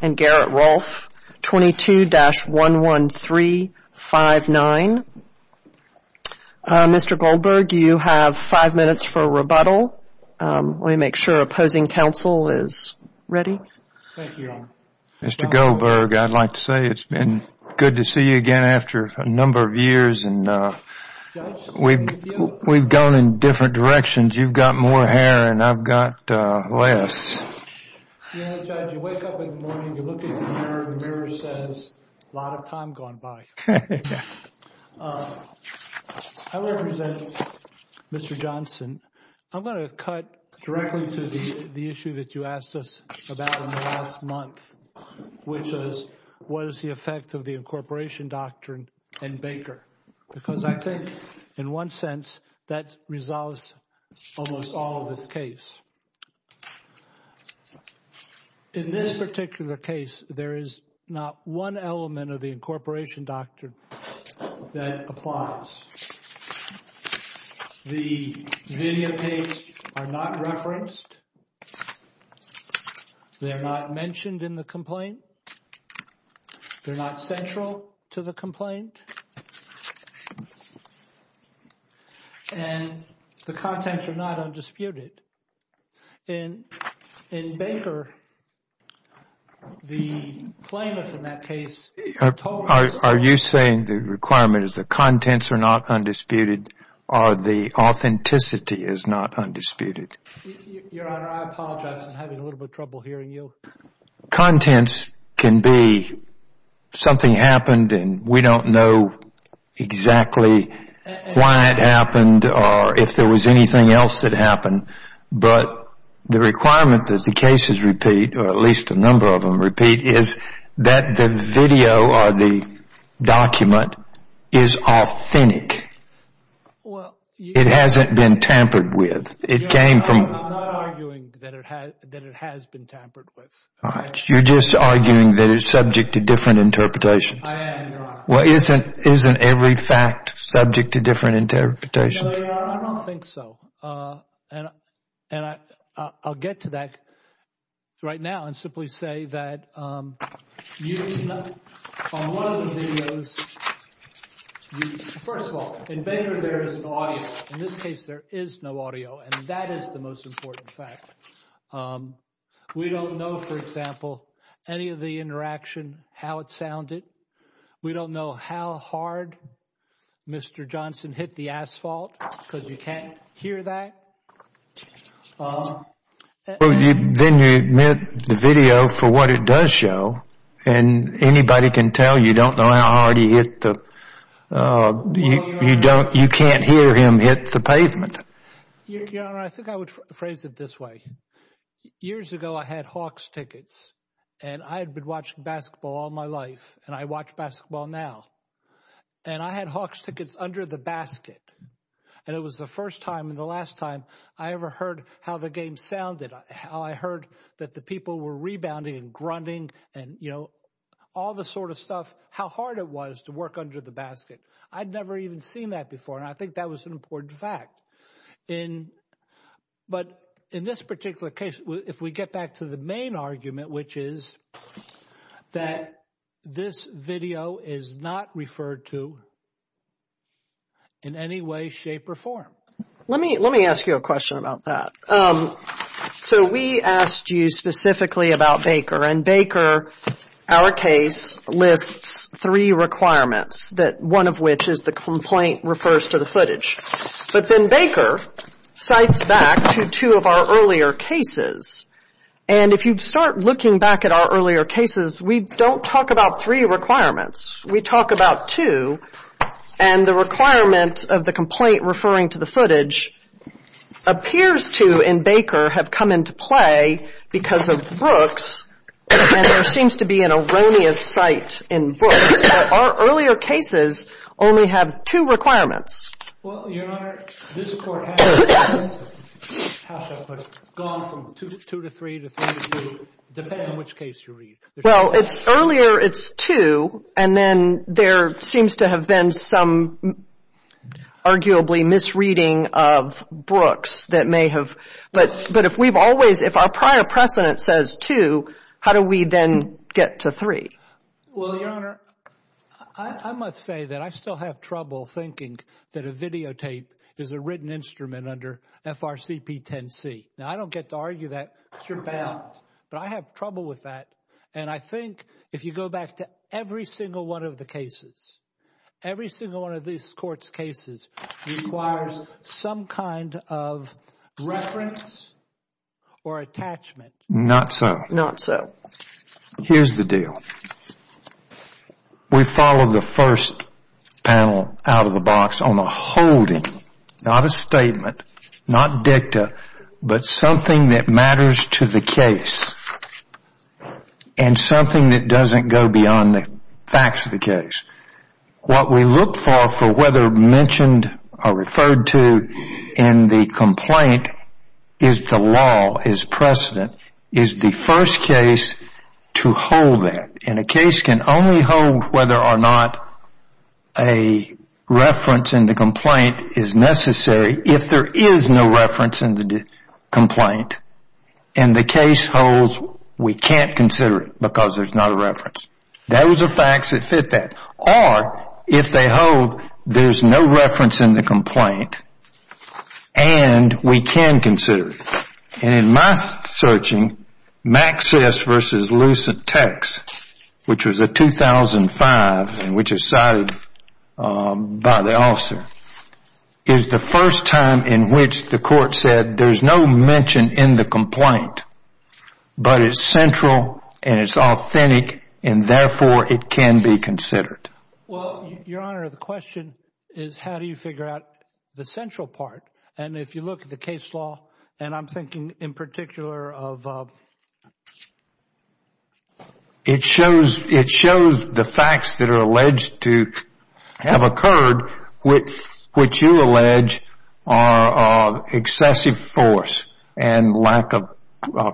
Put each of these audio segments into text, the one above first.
and Garrett Rolfe, 22-11359. Mr. Goldberg, you have 5 minutes for a rebuttal. Let me make sure opposing counsel is ready. Mr. Goldberg, I'd like to say it's been good to see you again after a number of years. We've gone in different directions. You've got more hair and I've got less. Yeah, Judge, you wake up in the morning, you look at the mirror, the mirror says, a lot of time gone by. I want to present Mr. Johnson. I'm going to cut directly to the issue that you asked us about in the last month, which is, what is the effect of the incorporation doctrine and Baker? Because I think in one sense, that resolves almost all of this case. In this particular case, there is not one element of the incorporation doctrine that applies. The video tapes are not referenced. They're not mentioned in the complaint. They're not central to the complaint. And the contents are not undisputed. In Baker, the claimant in that case told us... Are you saying the requirement is the contents are not undisputed or the authenticity is not undisputed? Your Honor, I apologize. I'm having a little bit of trouble hearing you. Contents can be something happened and we don't know exactly why it happened or if there was anything else that happened. But the requirement that the cases repeat, or at least a number of them repeat, is that the video or the document is authentic. It hasn't been tampered with. I'm not arguing that it has been tampered with. You're just arguing that it's subject to different interpretations. I am, Your Honor. Well, isn't every fact subject to different interpretations? I don't think so. And I'll get to that right now and simply say that on one of the videos... First of all, in Baker, there is an audio. In this case, there is no audio. And that is the most important fact. We don't know, for example, any of the interaction, how it sounded. We don't know how hard Mr. Johnson hit the asphalt because you can't hear that. Then you admit the video for what it does show and anybody can tell you don't know how hard he hit the... You can't hear him hit the pavement. Your Honor, I think I would phrase it this way. Years ago, I had Hawks tickets and I had been watching basketball all my life and I watch basketball now. And I had Hawks tickets under the basket. And it was the first time and the last time I ever heard how the game sounded, how I heard that the people were rebounding and grunting and, you know, all the sort of stuff, how hard it was to work under the basket. I'd never even seen that before. And I think that was an important fact. But in this particular case, if we get back to the main argument, which is that this video is not referred to in any way, shape or form. Let me let me ask you a question about that. So we asked you specifically about Baker and Baker, our case lists three requirements that one of which is the complaint refers to the footage. But then Baker cites back to two of our earlier cases. And if you start looking back at our earlier cases, we don't talk about three requirements. We talk about two. And the requirement of the complaint referring to the footage appears to in Baker have come into play because of Brooks. And there seems to be an erroneous site in Brooks. But our earlier cases only have two requirements. Well, Your Honor, this Court has gone from two to three to three to two, depending on which case you read. Well, it's earlier it's two. And then there seems to have been some arguably misreading of Brooks that may have. But but if we've always if our prior precedent says two, how do we then get to three? Well, Your Honor, I must say that I still have trouble thinking that a videotape is a written instrument under FRCP 10C. Now, I don't get to argue that. But I have trouble with that. And I think if you go back to every single one of the cases, every single one of these courts cases requires some kind of reference or attachment. Not so. Not so. Here's the deal. We follow the first panel out of the box on a holding, not a statement, not dicta, but something that matters to the case and something that doesn't go beyond the facts of the case. What we look for, for whether mentioned or referred to in the complaint is the law, is precedent, is the first case to hold that. And a case can only hold whether or not a reference in the complaint is necessary if there is no reference in the complaint. And the case holds we can't consider it because there's not a reference. That was a fact that fit that. Or if they hold there's no reference in the complaint and we can consider it. And in my searching, Maxis v. Lucitex, which was a 2005 and which is cited by the officer, is the first time in which the court said there's no mention in the complaint, but it's authentic and therefore it can be considered. Well, Your Honor, the question is how do you figure out the central part? And if you look at the case law, and I'm thinking in particular of... It shows the facts that are alleged to have occurred, which you allege are excessive force and lack of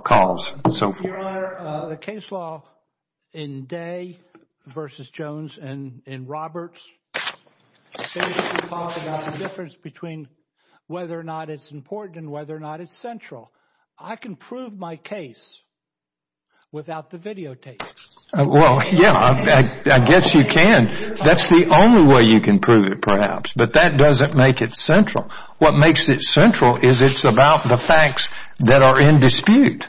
cause and so forth. Your Honor, the case law in Day v. Jones and in Roberts, they talk about the difference between whether or not it's important and whether or not it's central. I can prove my case without the videotapes. Well, yeah, I guess you can. That's the only way you can prove it, perhaps. But that doesn't make it central. What makes it central is it's about the facts that are in dispute.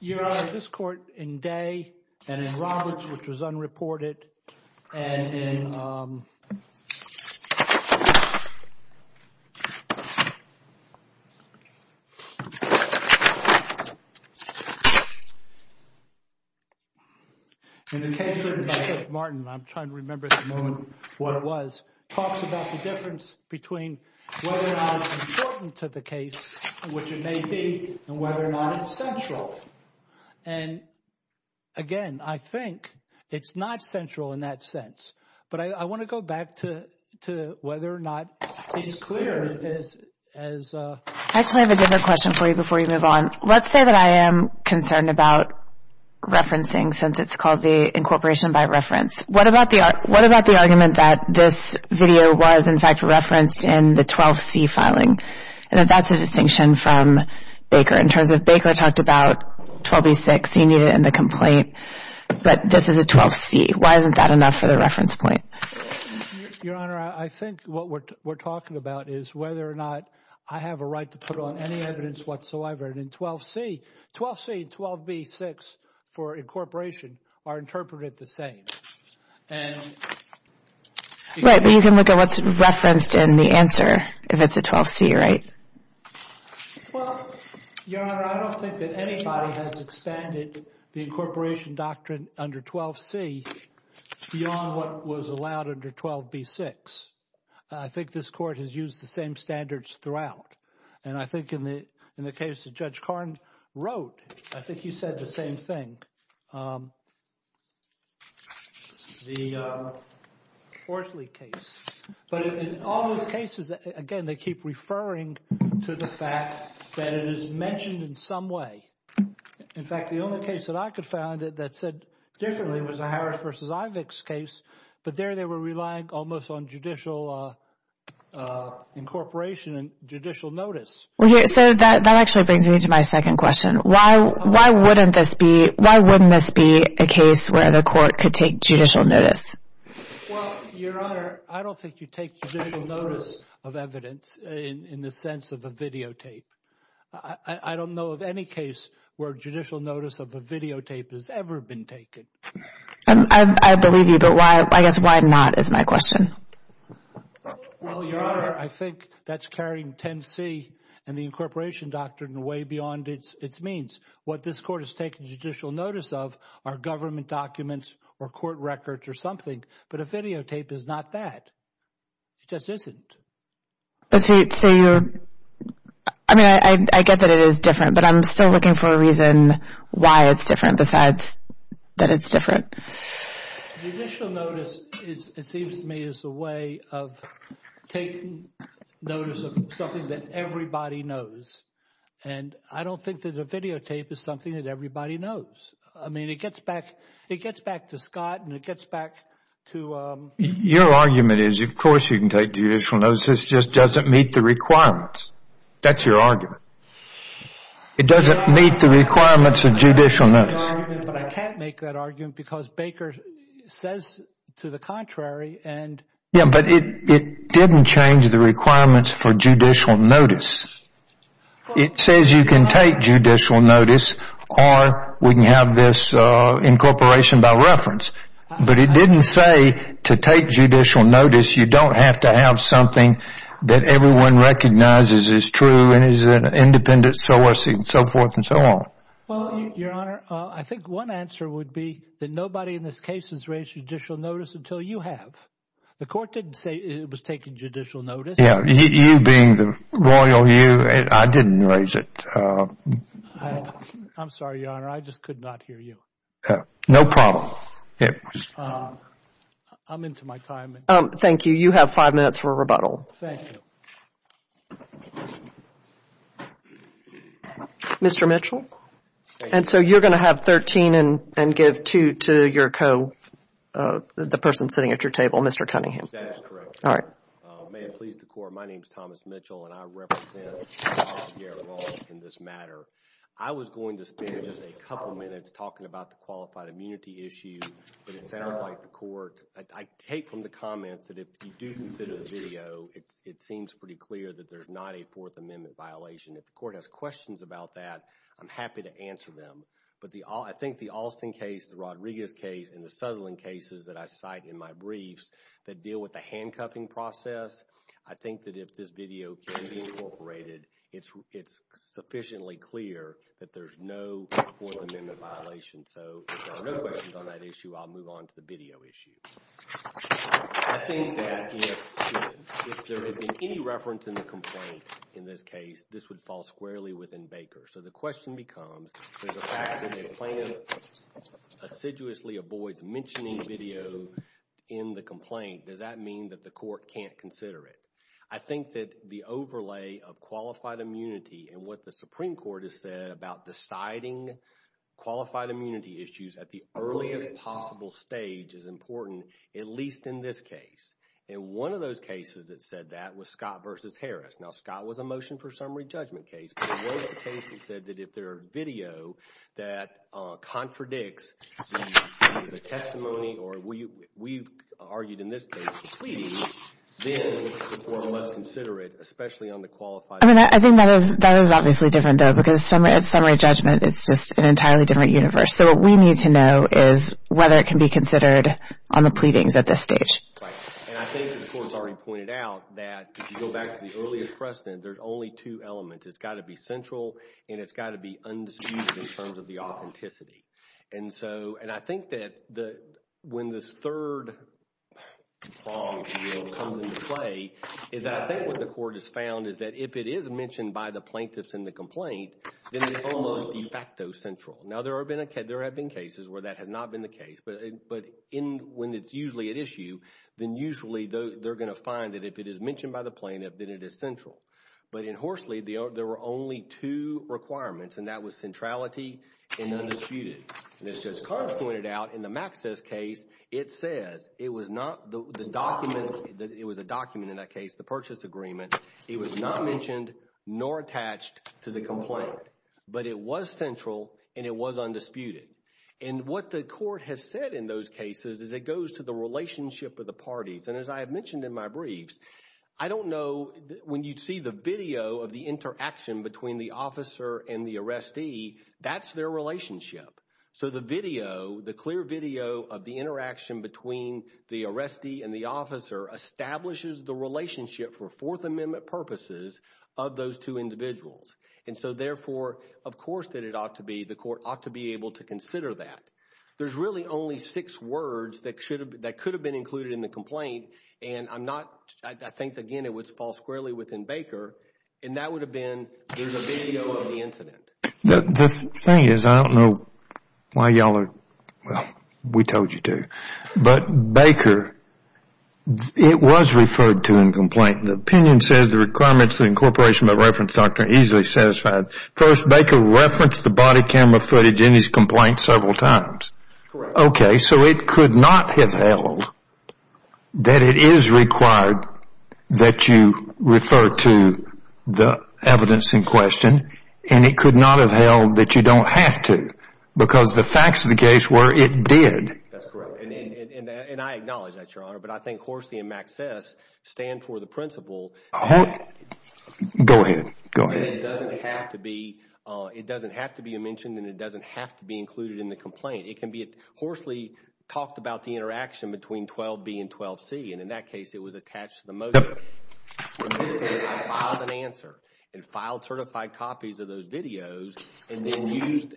Your Honor, this court in Day and in Roberts, which was unreported, and in... In the case written by Judge Martin, I'm trying to remember at the moment what it was, talks about the difference between whether or not it's important to the case, which it may be, and whether or not it's central. And, again, I think it's not central in that sense. But I want to go back to whether or not it's clear as... I actually have a different question for you before you move on. Let's say that I am concerned about referencing, since it's called the incorporation by reference. What about the argument that this video was, in fact, referenced in the 12C filing, and that that's a distinction from Baker? In terms of Baker talked about 12B-6, he needed it in the complaint. But this is a 12C. Why isn't that enough for the reference point? Your Honor, I think what we're talking about is whether or not I have a right to put on any evidence whatsoever. And in 12C, 12C and 12B-6 for incorporation are interpreted the same. And... Right, but you can look at what's Well, Your Honor, I don't think that anybody has expanded the incorporation doctrine under 12C beyond what was allowed under 12B-6. I think this Court has used the same standards throughout. And I think in the case that Judge Karn wrote, I think he said the same thing. The Horsley case. But in all those cases, again, they keep referring to the fact that it is mentioned in some way. In fact, the only case that I could find that said differently was the Harris v. Ivick's case. But there they were relying almost on judicial incorporation and judicial notice. Well, so that actually brings me to my second question. Why wouldn't this be, why wouldn't this be a case where the Court could take judicial notice? Well, Your Honor, I don't think you take judicial notice of evidence in the sense of a videotape. I don't know of any case where judicial notice of a videotape has ever been taken. I believe you, but I guess why not is my question. Well, Your Honor, I think that's carrying 10C and the incorporation doctrine way beyond its means. What this Court has taken judicial notice of are government documents or court records or something. But a videotape is not that. It just isn't. I mean, I get that it is different, but I'm still looking for a reason why it's different besides that it's different. Judicial notice, it seems to me, is a way of taking notice of something that everybody knows. And I don't think that a videotape is something that everybody knows. I mean, it gets back, it gets back to Scott and it gets back to... Your argument is, of course, you can take judicial notice, this just doesn't meet the requirements. That's your argument. It doesn't meet the requirements of judicial notice. But I can't make that argument because Baker says to the contrary and... Yeah, but it didn't change the requirements for judicial notice. It says you can take judicial notice or we can have this incorporation by reference. But it didn't say to take judicial notice, you don't have to have something that everyone recognizes is true and is an independent source and so forth and so on. Well, Your Honor, I think one answer would be that nobody in this case has raised judicial notice until you have. The Court didn't say it was taking judicial notice. Yeah, you being the royal you, I didn't raise it. I'm sorry, Your Honor, I just could not hear you. No problem. I'm into my time. Thank you. You have five minutes for a rebuttal. Thank you. Mr. Mitchell. And so you're going to have 13 and give two to your co, the person sitting at your table, Mr. Cunningham. That is correct. All right. May it please the Court, my name is Thomas Mitchell and I represent Garrett Walsh in this matter. I was going to spend just a couple minutes talking about the qualified immunity issue, but it sounds like the Court, I take from the comments that if you do consider the video, it seems pretty clear that there's not a Fourth Amendment violation. If the Court has questions about that, I'm happy to answer them. But I think the Alston case, the Rodriguez case, and the Sutherland cases that I cite in my briefs deal with the handcuffing process. I think that if this video can be incorporated, it's sufficiently clear that there's no Fourth Amendment violation. So if there are no questions on that issue, I'll move on to the video issue. I think that if there had been any reference in the complaint in this case, this would fall squarely within Baker. So the question becomes, is the fact that the plaintiff assiduously avoids mentioning video in the complaint, does that mean that the Court can't consider it? I think that the overlay of qualified immunity and what the Supreme Court has said about deciding qualified immunity issues at the earliest possible stage is important, at least in this case. And one of those cases that said that was Scott v. Harris. Now, Scott was a motion for summary judgment case, but one of the cases said that if there are video that contradicts the testimony, or we've argued in this case, the pleading, then the Court must consider it, especially on the qualified... I mean, I think that is obviously different, though, because at summary judgment, it's just an entirely different universe. So what we need to know is whether it can be considered on the pleadings at this stage. And I think the Court has already pointed out that, if you go back to the earliest precedent, there's only two elements. It's got to be central, and it's got to be undisputed in terms of the authenticity. And so, and I think that when this third prong comes into play, is that I think what the Court has found is that if it is mentioned by the plaintiffs in the complaint, then it's almost de facto central. Now, there have been cases where that has not been the case, but when it's usually at issue, then usually they're going to find that if it is mentioned by the plaintiff, then it is central. But in Horsley, there were only two requirements, and that was centrality and undisputed. And as Judge Carr pointed out, in the Maxis case, it says it was not the document, it was a document in that case, the purchase agreement, it was not mentioned nor attached to the complaint, but it was central and it was undisputed. And what the Court has said in those cases is it goes to the relationship of the parties. And as I have mentioned in my briefs, I don't know, when you see the video of the interaction between the officer and the arrestee, that's their relationship. So the video, the clear video of the interaction between the arrestee and the officer establishes the relationship for Fourth Amendment purposes of those two individuals. And so therefore, of course, that it ought to be, the Court ought to be able to consider that. There's really only six words that could have been included in the complaint, and I'm not, I think, again, it would fall squarely within Baker, and that would have been, there's a video of the incident. The thing is, I don't know why y'all are, well, we told you to, but Baker, it was referred to in the complaint. The opinion says the requirements of incorporation by reference doctrine are easily satisfied. First, Baker referenced the body camera footage in his complaint several times. Okay. So it could not have held that it is required that you refer to the evidence in question, and it could not have held that you don't have to, because the facts of the case were it did. That's correct, and I acknowledge that, Your Honor, but I think Horsey and Maxfess stand for the principle that it doesn't have to be, it doesn't have to be mentioned, and it doesn't have to be included in the complaint. It can be, Horsey talked about the interaction between 12b and 12c, and in that case, it was attached to the motion. When this case, I filed an answer, and filed certified copies of those videos, and then used,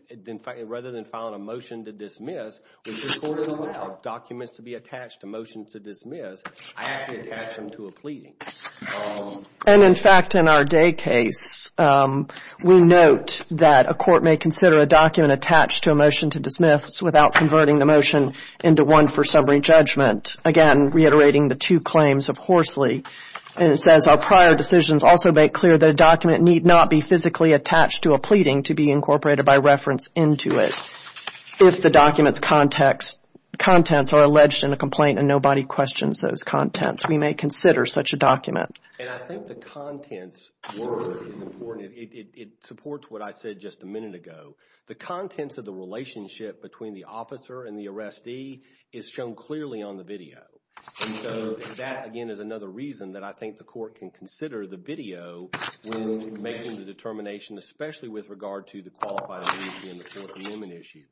rather than filing a motion to dismiss, which this court doesn't allow documents to be attached to motions to dismiss, I actually attached them to a pleading. And in fact, in our day case, we note that a court may consider a document attached to a motion to dismiss without converting the motion into one for summary judgment. Again, reiterating the two claims of Horsley, and it says, our prior decisions also make clear that a document need not be physically attached to a pleading to be incorporated by reference into it. If the document's contents are alleged in a complaint, and nobody questions those contents, we may consider such a document. And I think the contents were important. It supports what I said just a minute ago. The contents of the relationship between the officer and the arrestee is shown clearly on the video. And so that, again, is another reason that I think the court can consider the video when making the determination, especially with regard to the qualified immunity and the court's amendment issue.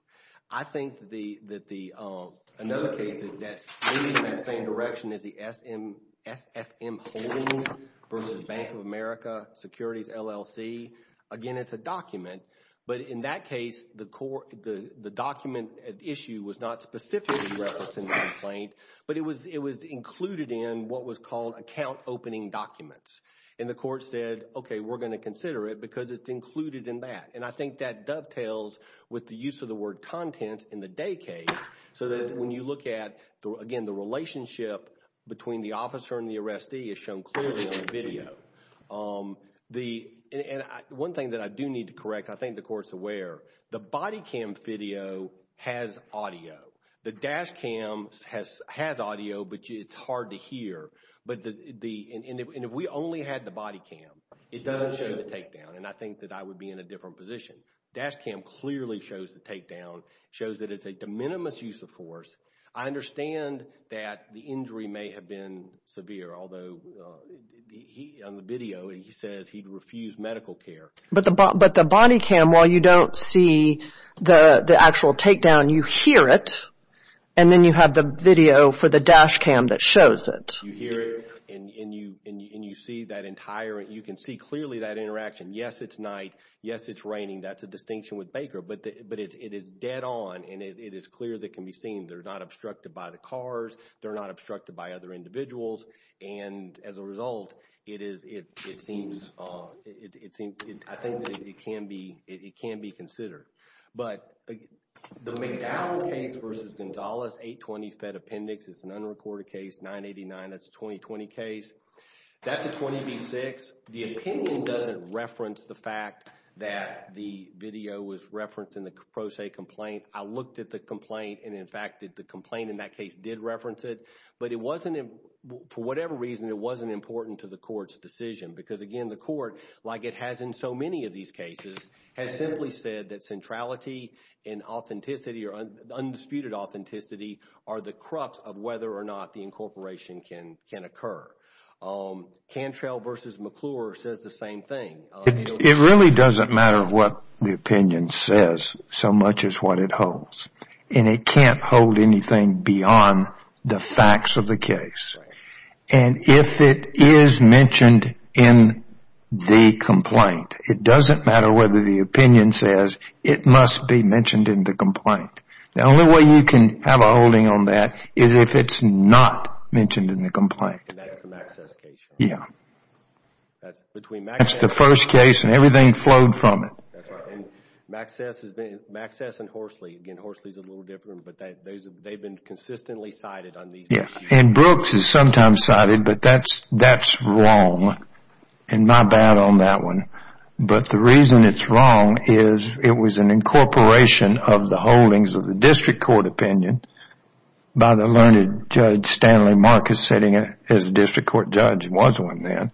I think that another case that leads in that same direction is the SFM Holdings versus Bank of America Securities LLC. Again, it's a document. But in that case, the document issue was not specifically referenced in the complaint, but it was included in what was called account opening documents. And the court said, okay, we're going to consider it because it's included in that. And I think that dovetails with the use of the word content in the day case, so that when you look at, again, the relationship between the officer and the arrestee is shown clearly on the video. And one thing that I do need to correct, I think the court's aware, the body cam video has audio. The dash cam has audio, but it's hard to hear. And if we only had the body cam, it doesn't show the takedown. And I think that I would be in a different position. Dash cam clearly shows the takedown, shows that it's a de minimis use of force. I understand that the injury may have been severe, although on the video, he says he'd refused medical care. But the body cam, while you don't see the actual takedown, you hear it. And then you have the video for the dash cam that shows it. You hear it and you see that entire, you can see clearly that interaction. Yes, it's night. Yes, it's raining. That's a distinction with Baker. But it is dead on and it is clear that can be seen. They're not obstructed by the cars. They're not obstructed by other individuals. And as a result, it seems, I think that it can be considered. But the McDowell case versus Gonzalez, 820 Fed Appendix, it's an unrecorded case, 989. That's a 2020 case. That's a 20 v. 6. The opinion doesn't reference the fact that the video was referenced in the Croce complaint. I looked at the complaint and, in fact, the complaint in that case did reference it. But it wasn't, for whatever reason, it wasn't important to the court's decision. Because, again, the court, like it has in so many of these cases, has simply said that centrality and authenticity or undisputed authenticity are the crux of whether or not the incorporation can occur. Cantrell versus McClure says the same thing. It really doesn't matter what the opinion says so much as what it holds. And it can't hold anything beyond the facts of the case. And if it is mentioned in the complaint, it doesn't matter whether the opinion says it must be mentioned in the complaint. The only way you can have a holding on that is if it's not mentioned in the complaint. And that's the Maxcess case. Yeah. That's the first case and everything flowed from it. Maxcess and Horsley. Again, Horsley is a little different. But they've been consistently cited on these issues. And Brooks is sometimes cited. But that's wrong. And my bad on that one. But the reason it's wrong is it was an incorporation of the holdings of the district court opinion by the learned Judge Stanley Marcus sitting as a district court judge. He was one then.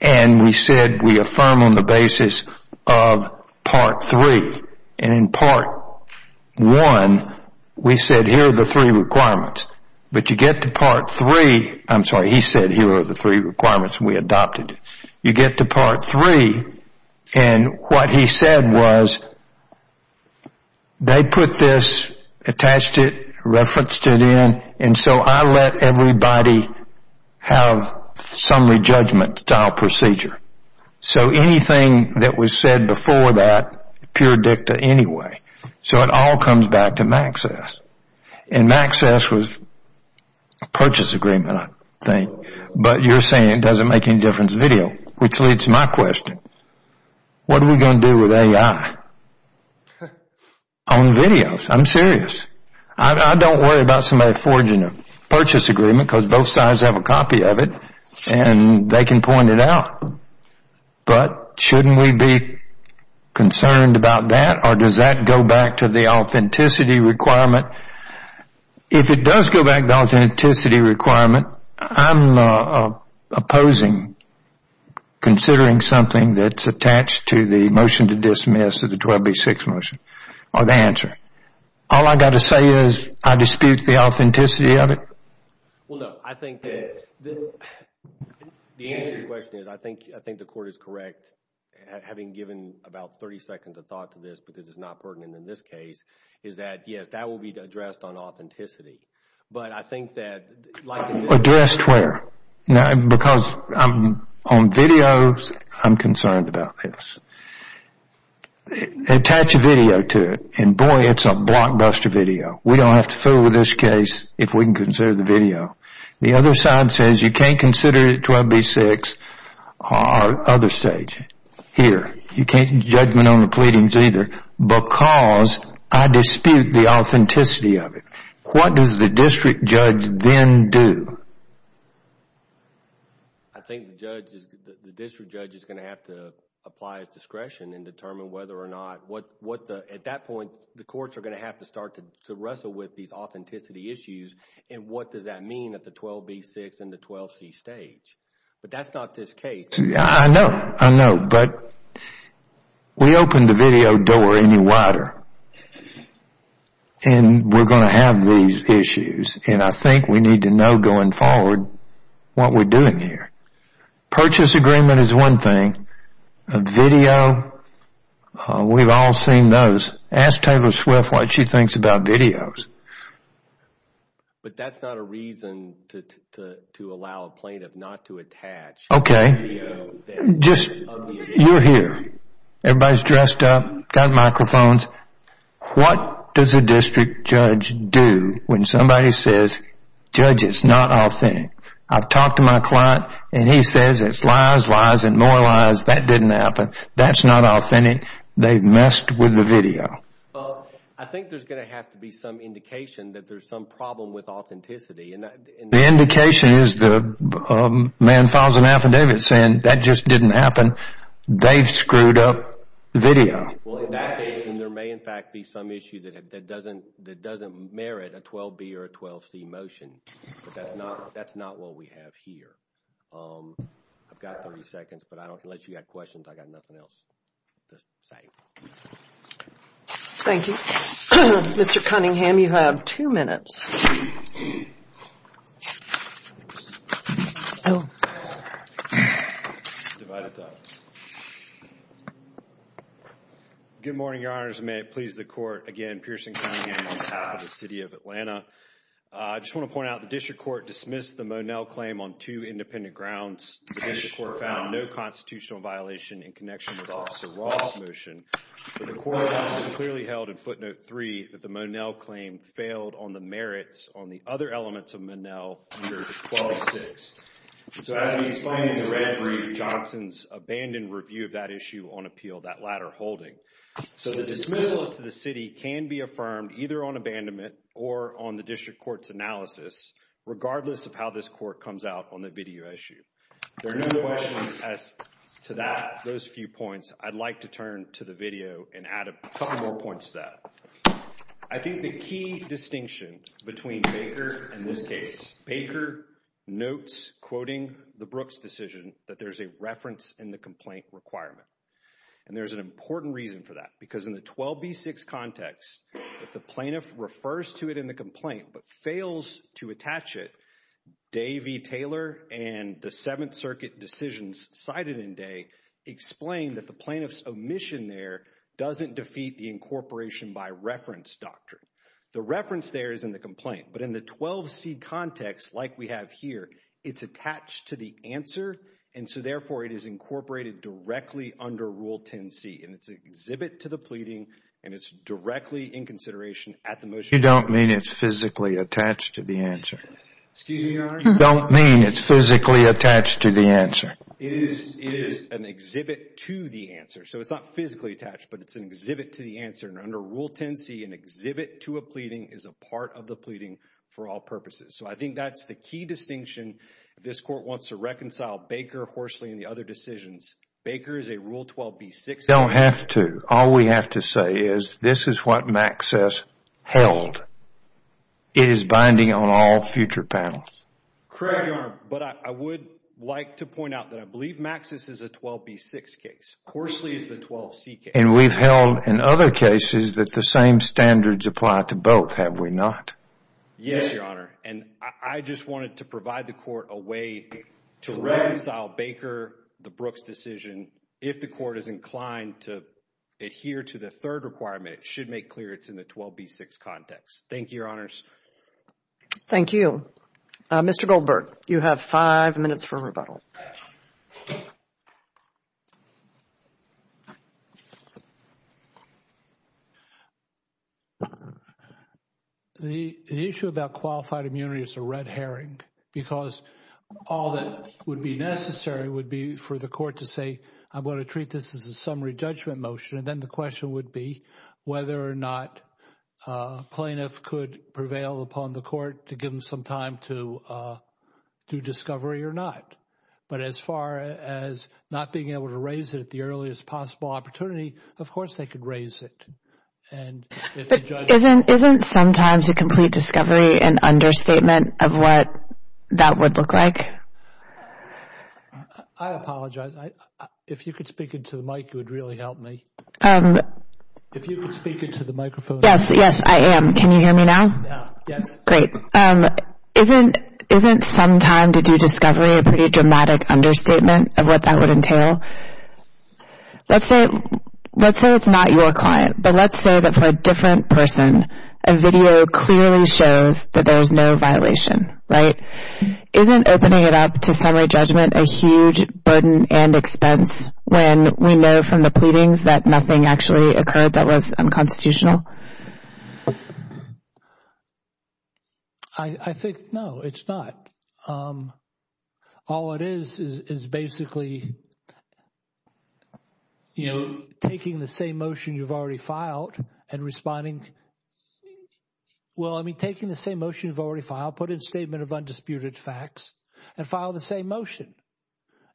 And we said we affirm on the basis of Part 3. And in Part 1, we said here are the three requirements. But you get to Part 3. I'm sorry. He said here are the three requirements we adopted. You get to Part 3. And what he said was they put this, attached it, referenced it in. And so I let everybody have summary judgment style procedure. So anything that was said before that, pure dicta anyway. So it all comes back to Maxcess. And Maxcess was a purchase agreement, I think. But you're saying it doesn't make any difference video, which leads to my question. What are we going to do with AI on videos? I'm serious. I don't worry about somebody forging a purchase agreement because both sides have a copy of it. And they can point it out. But shouldn't we be concerned about that? Or does that go back to the authenticity requirement? If it does go back to the authenticity requirement, I'm opposing considering something that's attached to the motion to dismiss of the 12B6 motion or the answer. All I got to say is I dispute the authenticity of it. Well, no. I think that the answer to your question is I think the court is correct. Having given about 30 seconds of thought to this, because it's not pertinent in this case, is that yes, that will be addressed on authenticity. But I think that like- Addressed where? Because on videos, I'm concerned about this. Attach a video to it. And boy, it's a blockbuster video. We don't have to fill with this case if we can consider the video. The other side says you can't consider it 12B6 or other stage. Here, you can't do judgment on the pleadings either because I dispute the authenticity of it. What does the district judge then do? I think the district judge is going to have to apply its discretion and determine whether or not at that point, the courts are going to have to start to wrestle with these authenticity issues. And what does that mean at the 12B6 and the 12C stage? But that's not this case. I know. I know. But we opened the video door any wider. And we're going to have these issues. And I think we need to know going forward what we're doing here. Purchase agreement is one thing. Video, we've all seen those. Ask Taylor Swift what she thinks about videos. But that's not a reason to allow a plaintiff not to attach a video that is of the issue. You're here. Everybody's dressed up, got microphones. What does a district judge do when somebody says, judge, it's not authentic? I've talked to my client and he says it's lies, lies, and more lies. That didn't happen. That's not authentic. They've messed with the video. I think there's going to have to be some indication that there's some problem with authenticity. The indication is the man files an affidavit saying that just didn't happen. They've screwed up the video. Well, in that case, then there may in fact be some issue that doesn't merit a 12B or a 12C motion. But that's not what we have here. I've got 30 seconds, but unless you've got questions, I've got nothing else to say. Thank you. Mr. Cunningham, you have two minutes. Good morning, your honors. May it please the court. Again, Pearson Cunningham on behalf of the city of Atlanta. I just want to point out the district court dismissed the Monell claim on two independent grounds. The district court found no constitutional violation in connection with Officer Ross' motion. But the court also clearly held in footnote 3 that the Monell claim failed on the merits on the other elements of Monell under 12-6. So as we explained in the red brief, Johnson's abandoned review of that issue on appeal, that latter holding. So the dismissal as to the city can be affirmed either on abandonment or on the district court's video issue. There are no questions as to that, those few points. I'd like to turn to the video and add a couple more points to that. I think the key distinction between Baker and this case, Baker notes, quoting the Brooks decision, that there's a reference in the complaint requirement. And there's an important reason for that. Because in the 12B-6 context, if the plaintiff refers to it in the complaint but fails to and the Seventh Circuit decisions cited in day explain that the plaintiff's omission there doesn't defeat the incorporation by reference doctrine. The reference there is in the complaint. But in the 12C context, like we have here, it's attached to the answer. And so therefore, it is incorporated directly under Rule 10C. And it's an exhibit to the pleading. And it's directly in consideration at the motion. Excuse me, Your Honor? Don't mean it's physically attached to the answer. It is an exhibit to the answer. So it's not physically attached. But it's an exhibit to the answer. And under Rule 10C, an exhibit to a pleading is a part of the pleading for all purposes. So I think that's the key distinction. This court wants to reconcile Baker, Horsley, and the other decisions. Baker is a Rule 12B-6. Don't have to. All we have to say is this is what Max says held. It is binding on all future panels. Correct, Your Honor. But I would like to point out that I believe Max's is a 12B-6 case. Horsley is the 12C case. And we've held in other cases that the same standards apply to both, have we not? Yes, Your Honor. And I just wanted to provide the court a way to reconcile Baker, the Brooks decision. If the court is inclined to adhere to the third requirement, it should make clear it's in the 12B-6 context. Thank you, Your Honors. Thank you. Mr. Goldberg, you have five minutes for rebuttal. The issue about qualified immunity is a red herring because all that would be necessary would be for the court to say, I'm going to treat this as a summary judgment motion. And then the question would be whether or not a plaintiff could prevail upon the court to give them some time to do discovery or not. But as far as not being able to raise it at the earliest possible opportunity, of course, they could raise it. Isn't sometimes a complete discovery an understatement of what that would look like? I apologize. If you could speak into the mic, it would really help me. If you could speak into the microphone. Yes, yes, I am. Can you hear me now? Yes. Great. Isn't some time to do discovery a pretty dramatic understatement of what that would entail? Let's say it's not your client, but let's say that for a different person, a video clearly shows that there is no violation, right? Isn't opening it up to summary judgment a huge burden and expense when we know from the pleadings that nothing actually occurred that was unconstitutional? I think no, it's not. All it is is basically, you know, taking the same motion you've already filed and responding. Well, I mean, taking the same motion you've already filed, put in a statement of undisputed facts and file the same motion.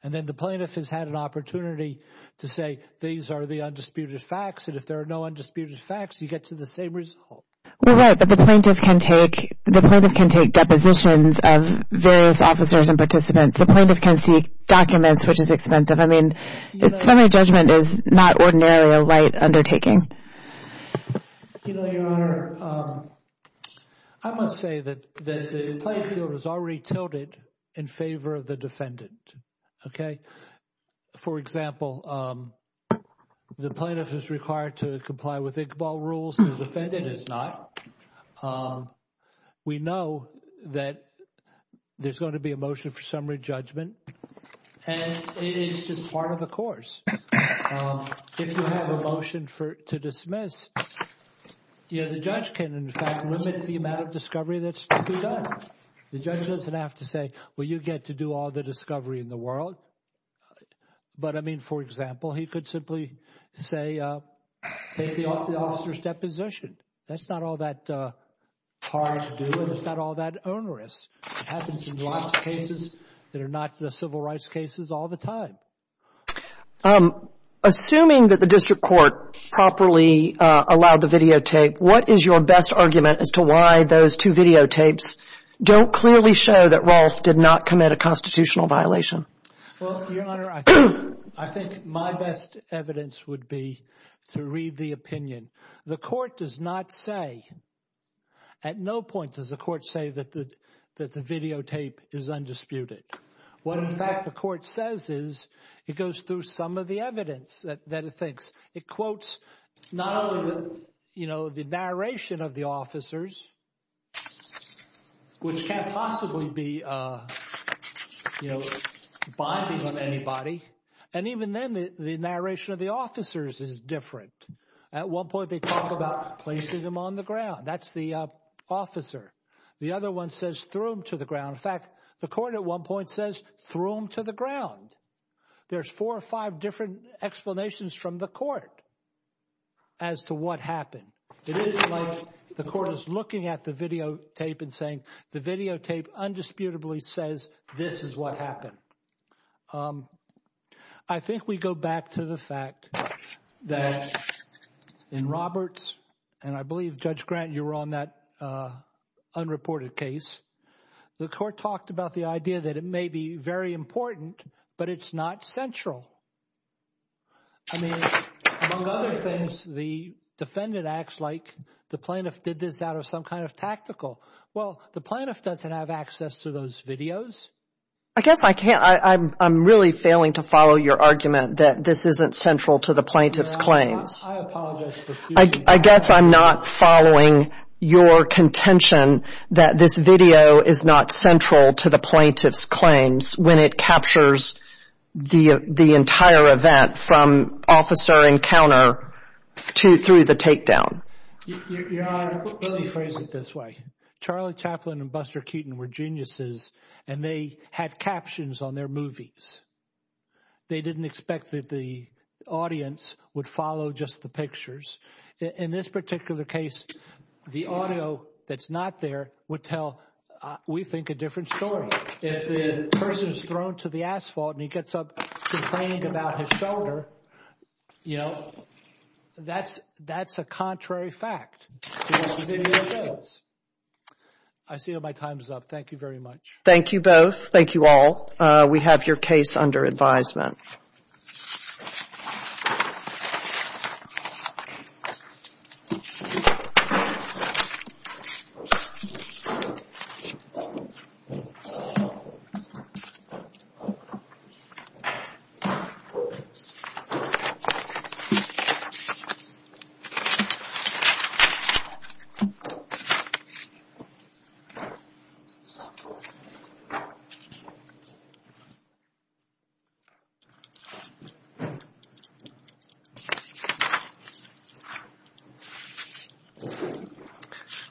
And then the plaintiff has had an opportunity to say, these are the undisputed facts. And if there are no undisputed facts, you get to the same result. We're right, but the plaintiff can take, the plaintiff can take depositions of various officers and participants. The plaintiff can seek documents, which is expensive. I mean, summary judgment is not ordinarily a right undertaking. You know, Your Honor, I must say that the playing field is already tilted in favor of the defendant. Okay. For example, the plaintiff is required to comply with Iqbal rules. The defendant is not. We know that there's going to be a motion for summary judgment. And it is just part of the course. If you have a motion to dismiss, the judge can, in fact, limit the amount of discovery that's to be done. The judge doesn't have to say, well, you get to do all the discovery in the world. But I mean, for example, he could simply say, take the officer's deposition. That's not all that hard to do, and it's not all that onerous. It happens in lots of cases that are not the civil rights cases all the time. Assuming that the district court properly allowed the videotape, what is your best argument as to why those two videotapes don't clearly show that Rolfe did not commit a constitutional violation? Well, Your Honor, I think my best evidence would be to read the opinion. The court does not say, at no point does the court say that the videotape is undisputed. What, in fact, the court says is it goes through some of the evidence that it thinks. It quotes not only, you know, the narration of the officers, which can't possibly be, you know, binding on anybody. And even then, the narration of the officers is different. At one point, they talk about placing them on the ground. That's the officer. The other one says, throw him to the ground. In fact, the court at one point says, throw him to the ground. There's four or five different explanations from the court as to what happened. It isn't like the court is looking at the videotape and saying, the videotape undisputably says this is what happened. I think we go back to the fact that in Roberts, and I believe, Judge Grant, you were on that unreported case, the court talked about the idea that it may be very important, but it's not central. I mean, among other things, the defendant acts like the plaintiff did this out of some kind of tactical. Well, the plaintiff doesn't have access to those videos. I guess I can't. I'm really failing to follow your argument that this isn't central to the plaintiff's claims. I apologize. I guess I'm not following your contention that this video is not central to the plaintiff's claims when it captures the entire event from officer encounter to through the takedown. Your Honor, let me phrase it this way. Charlie Chaplin and Buster Keaton were geniuses, and they had captions on their movies. They didn't expect that the audience would follow just the pictures. In this particular case, the audio that's not there would tell, we think, a different story. If the person is thrown to the asphalt and he gets up complaining about his shoulder, you know, that's a contrary fact. I see that my time is up. Thank you very much. Thank you both. Thank you all. We have your case under advisement.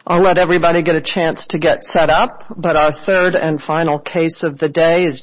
So, our third and final case of the day is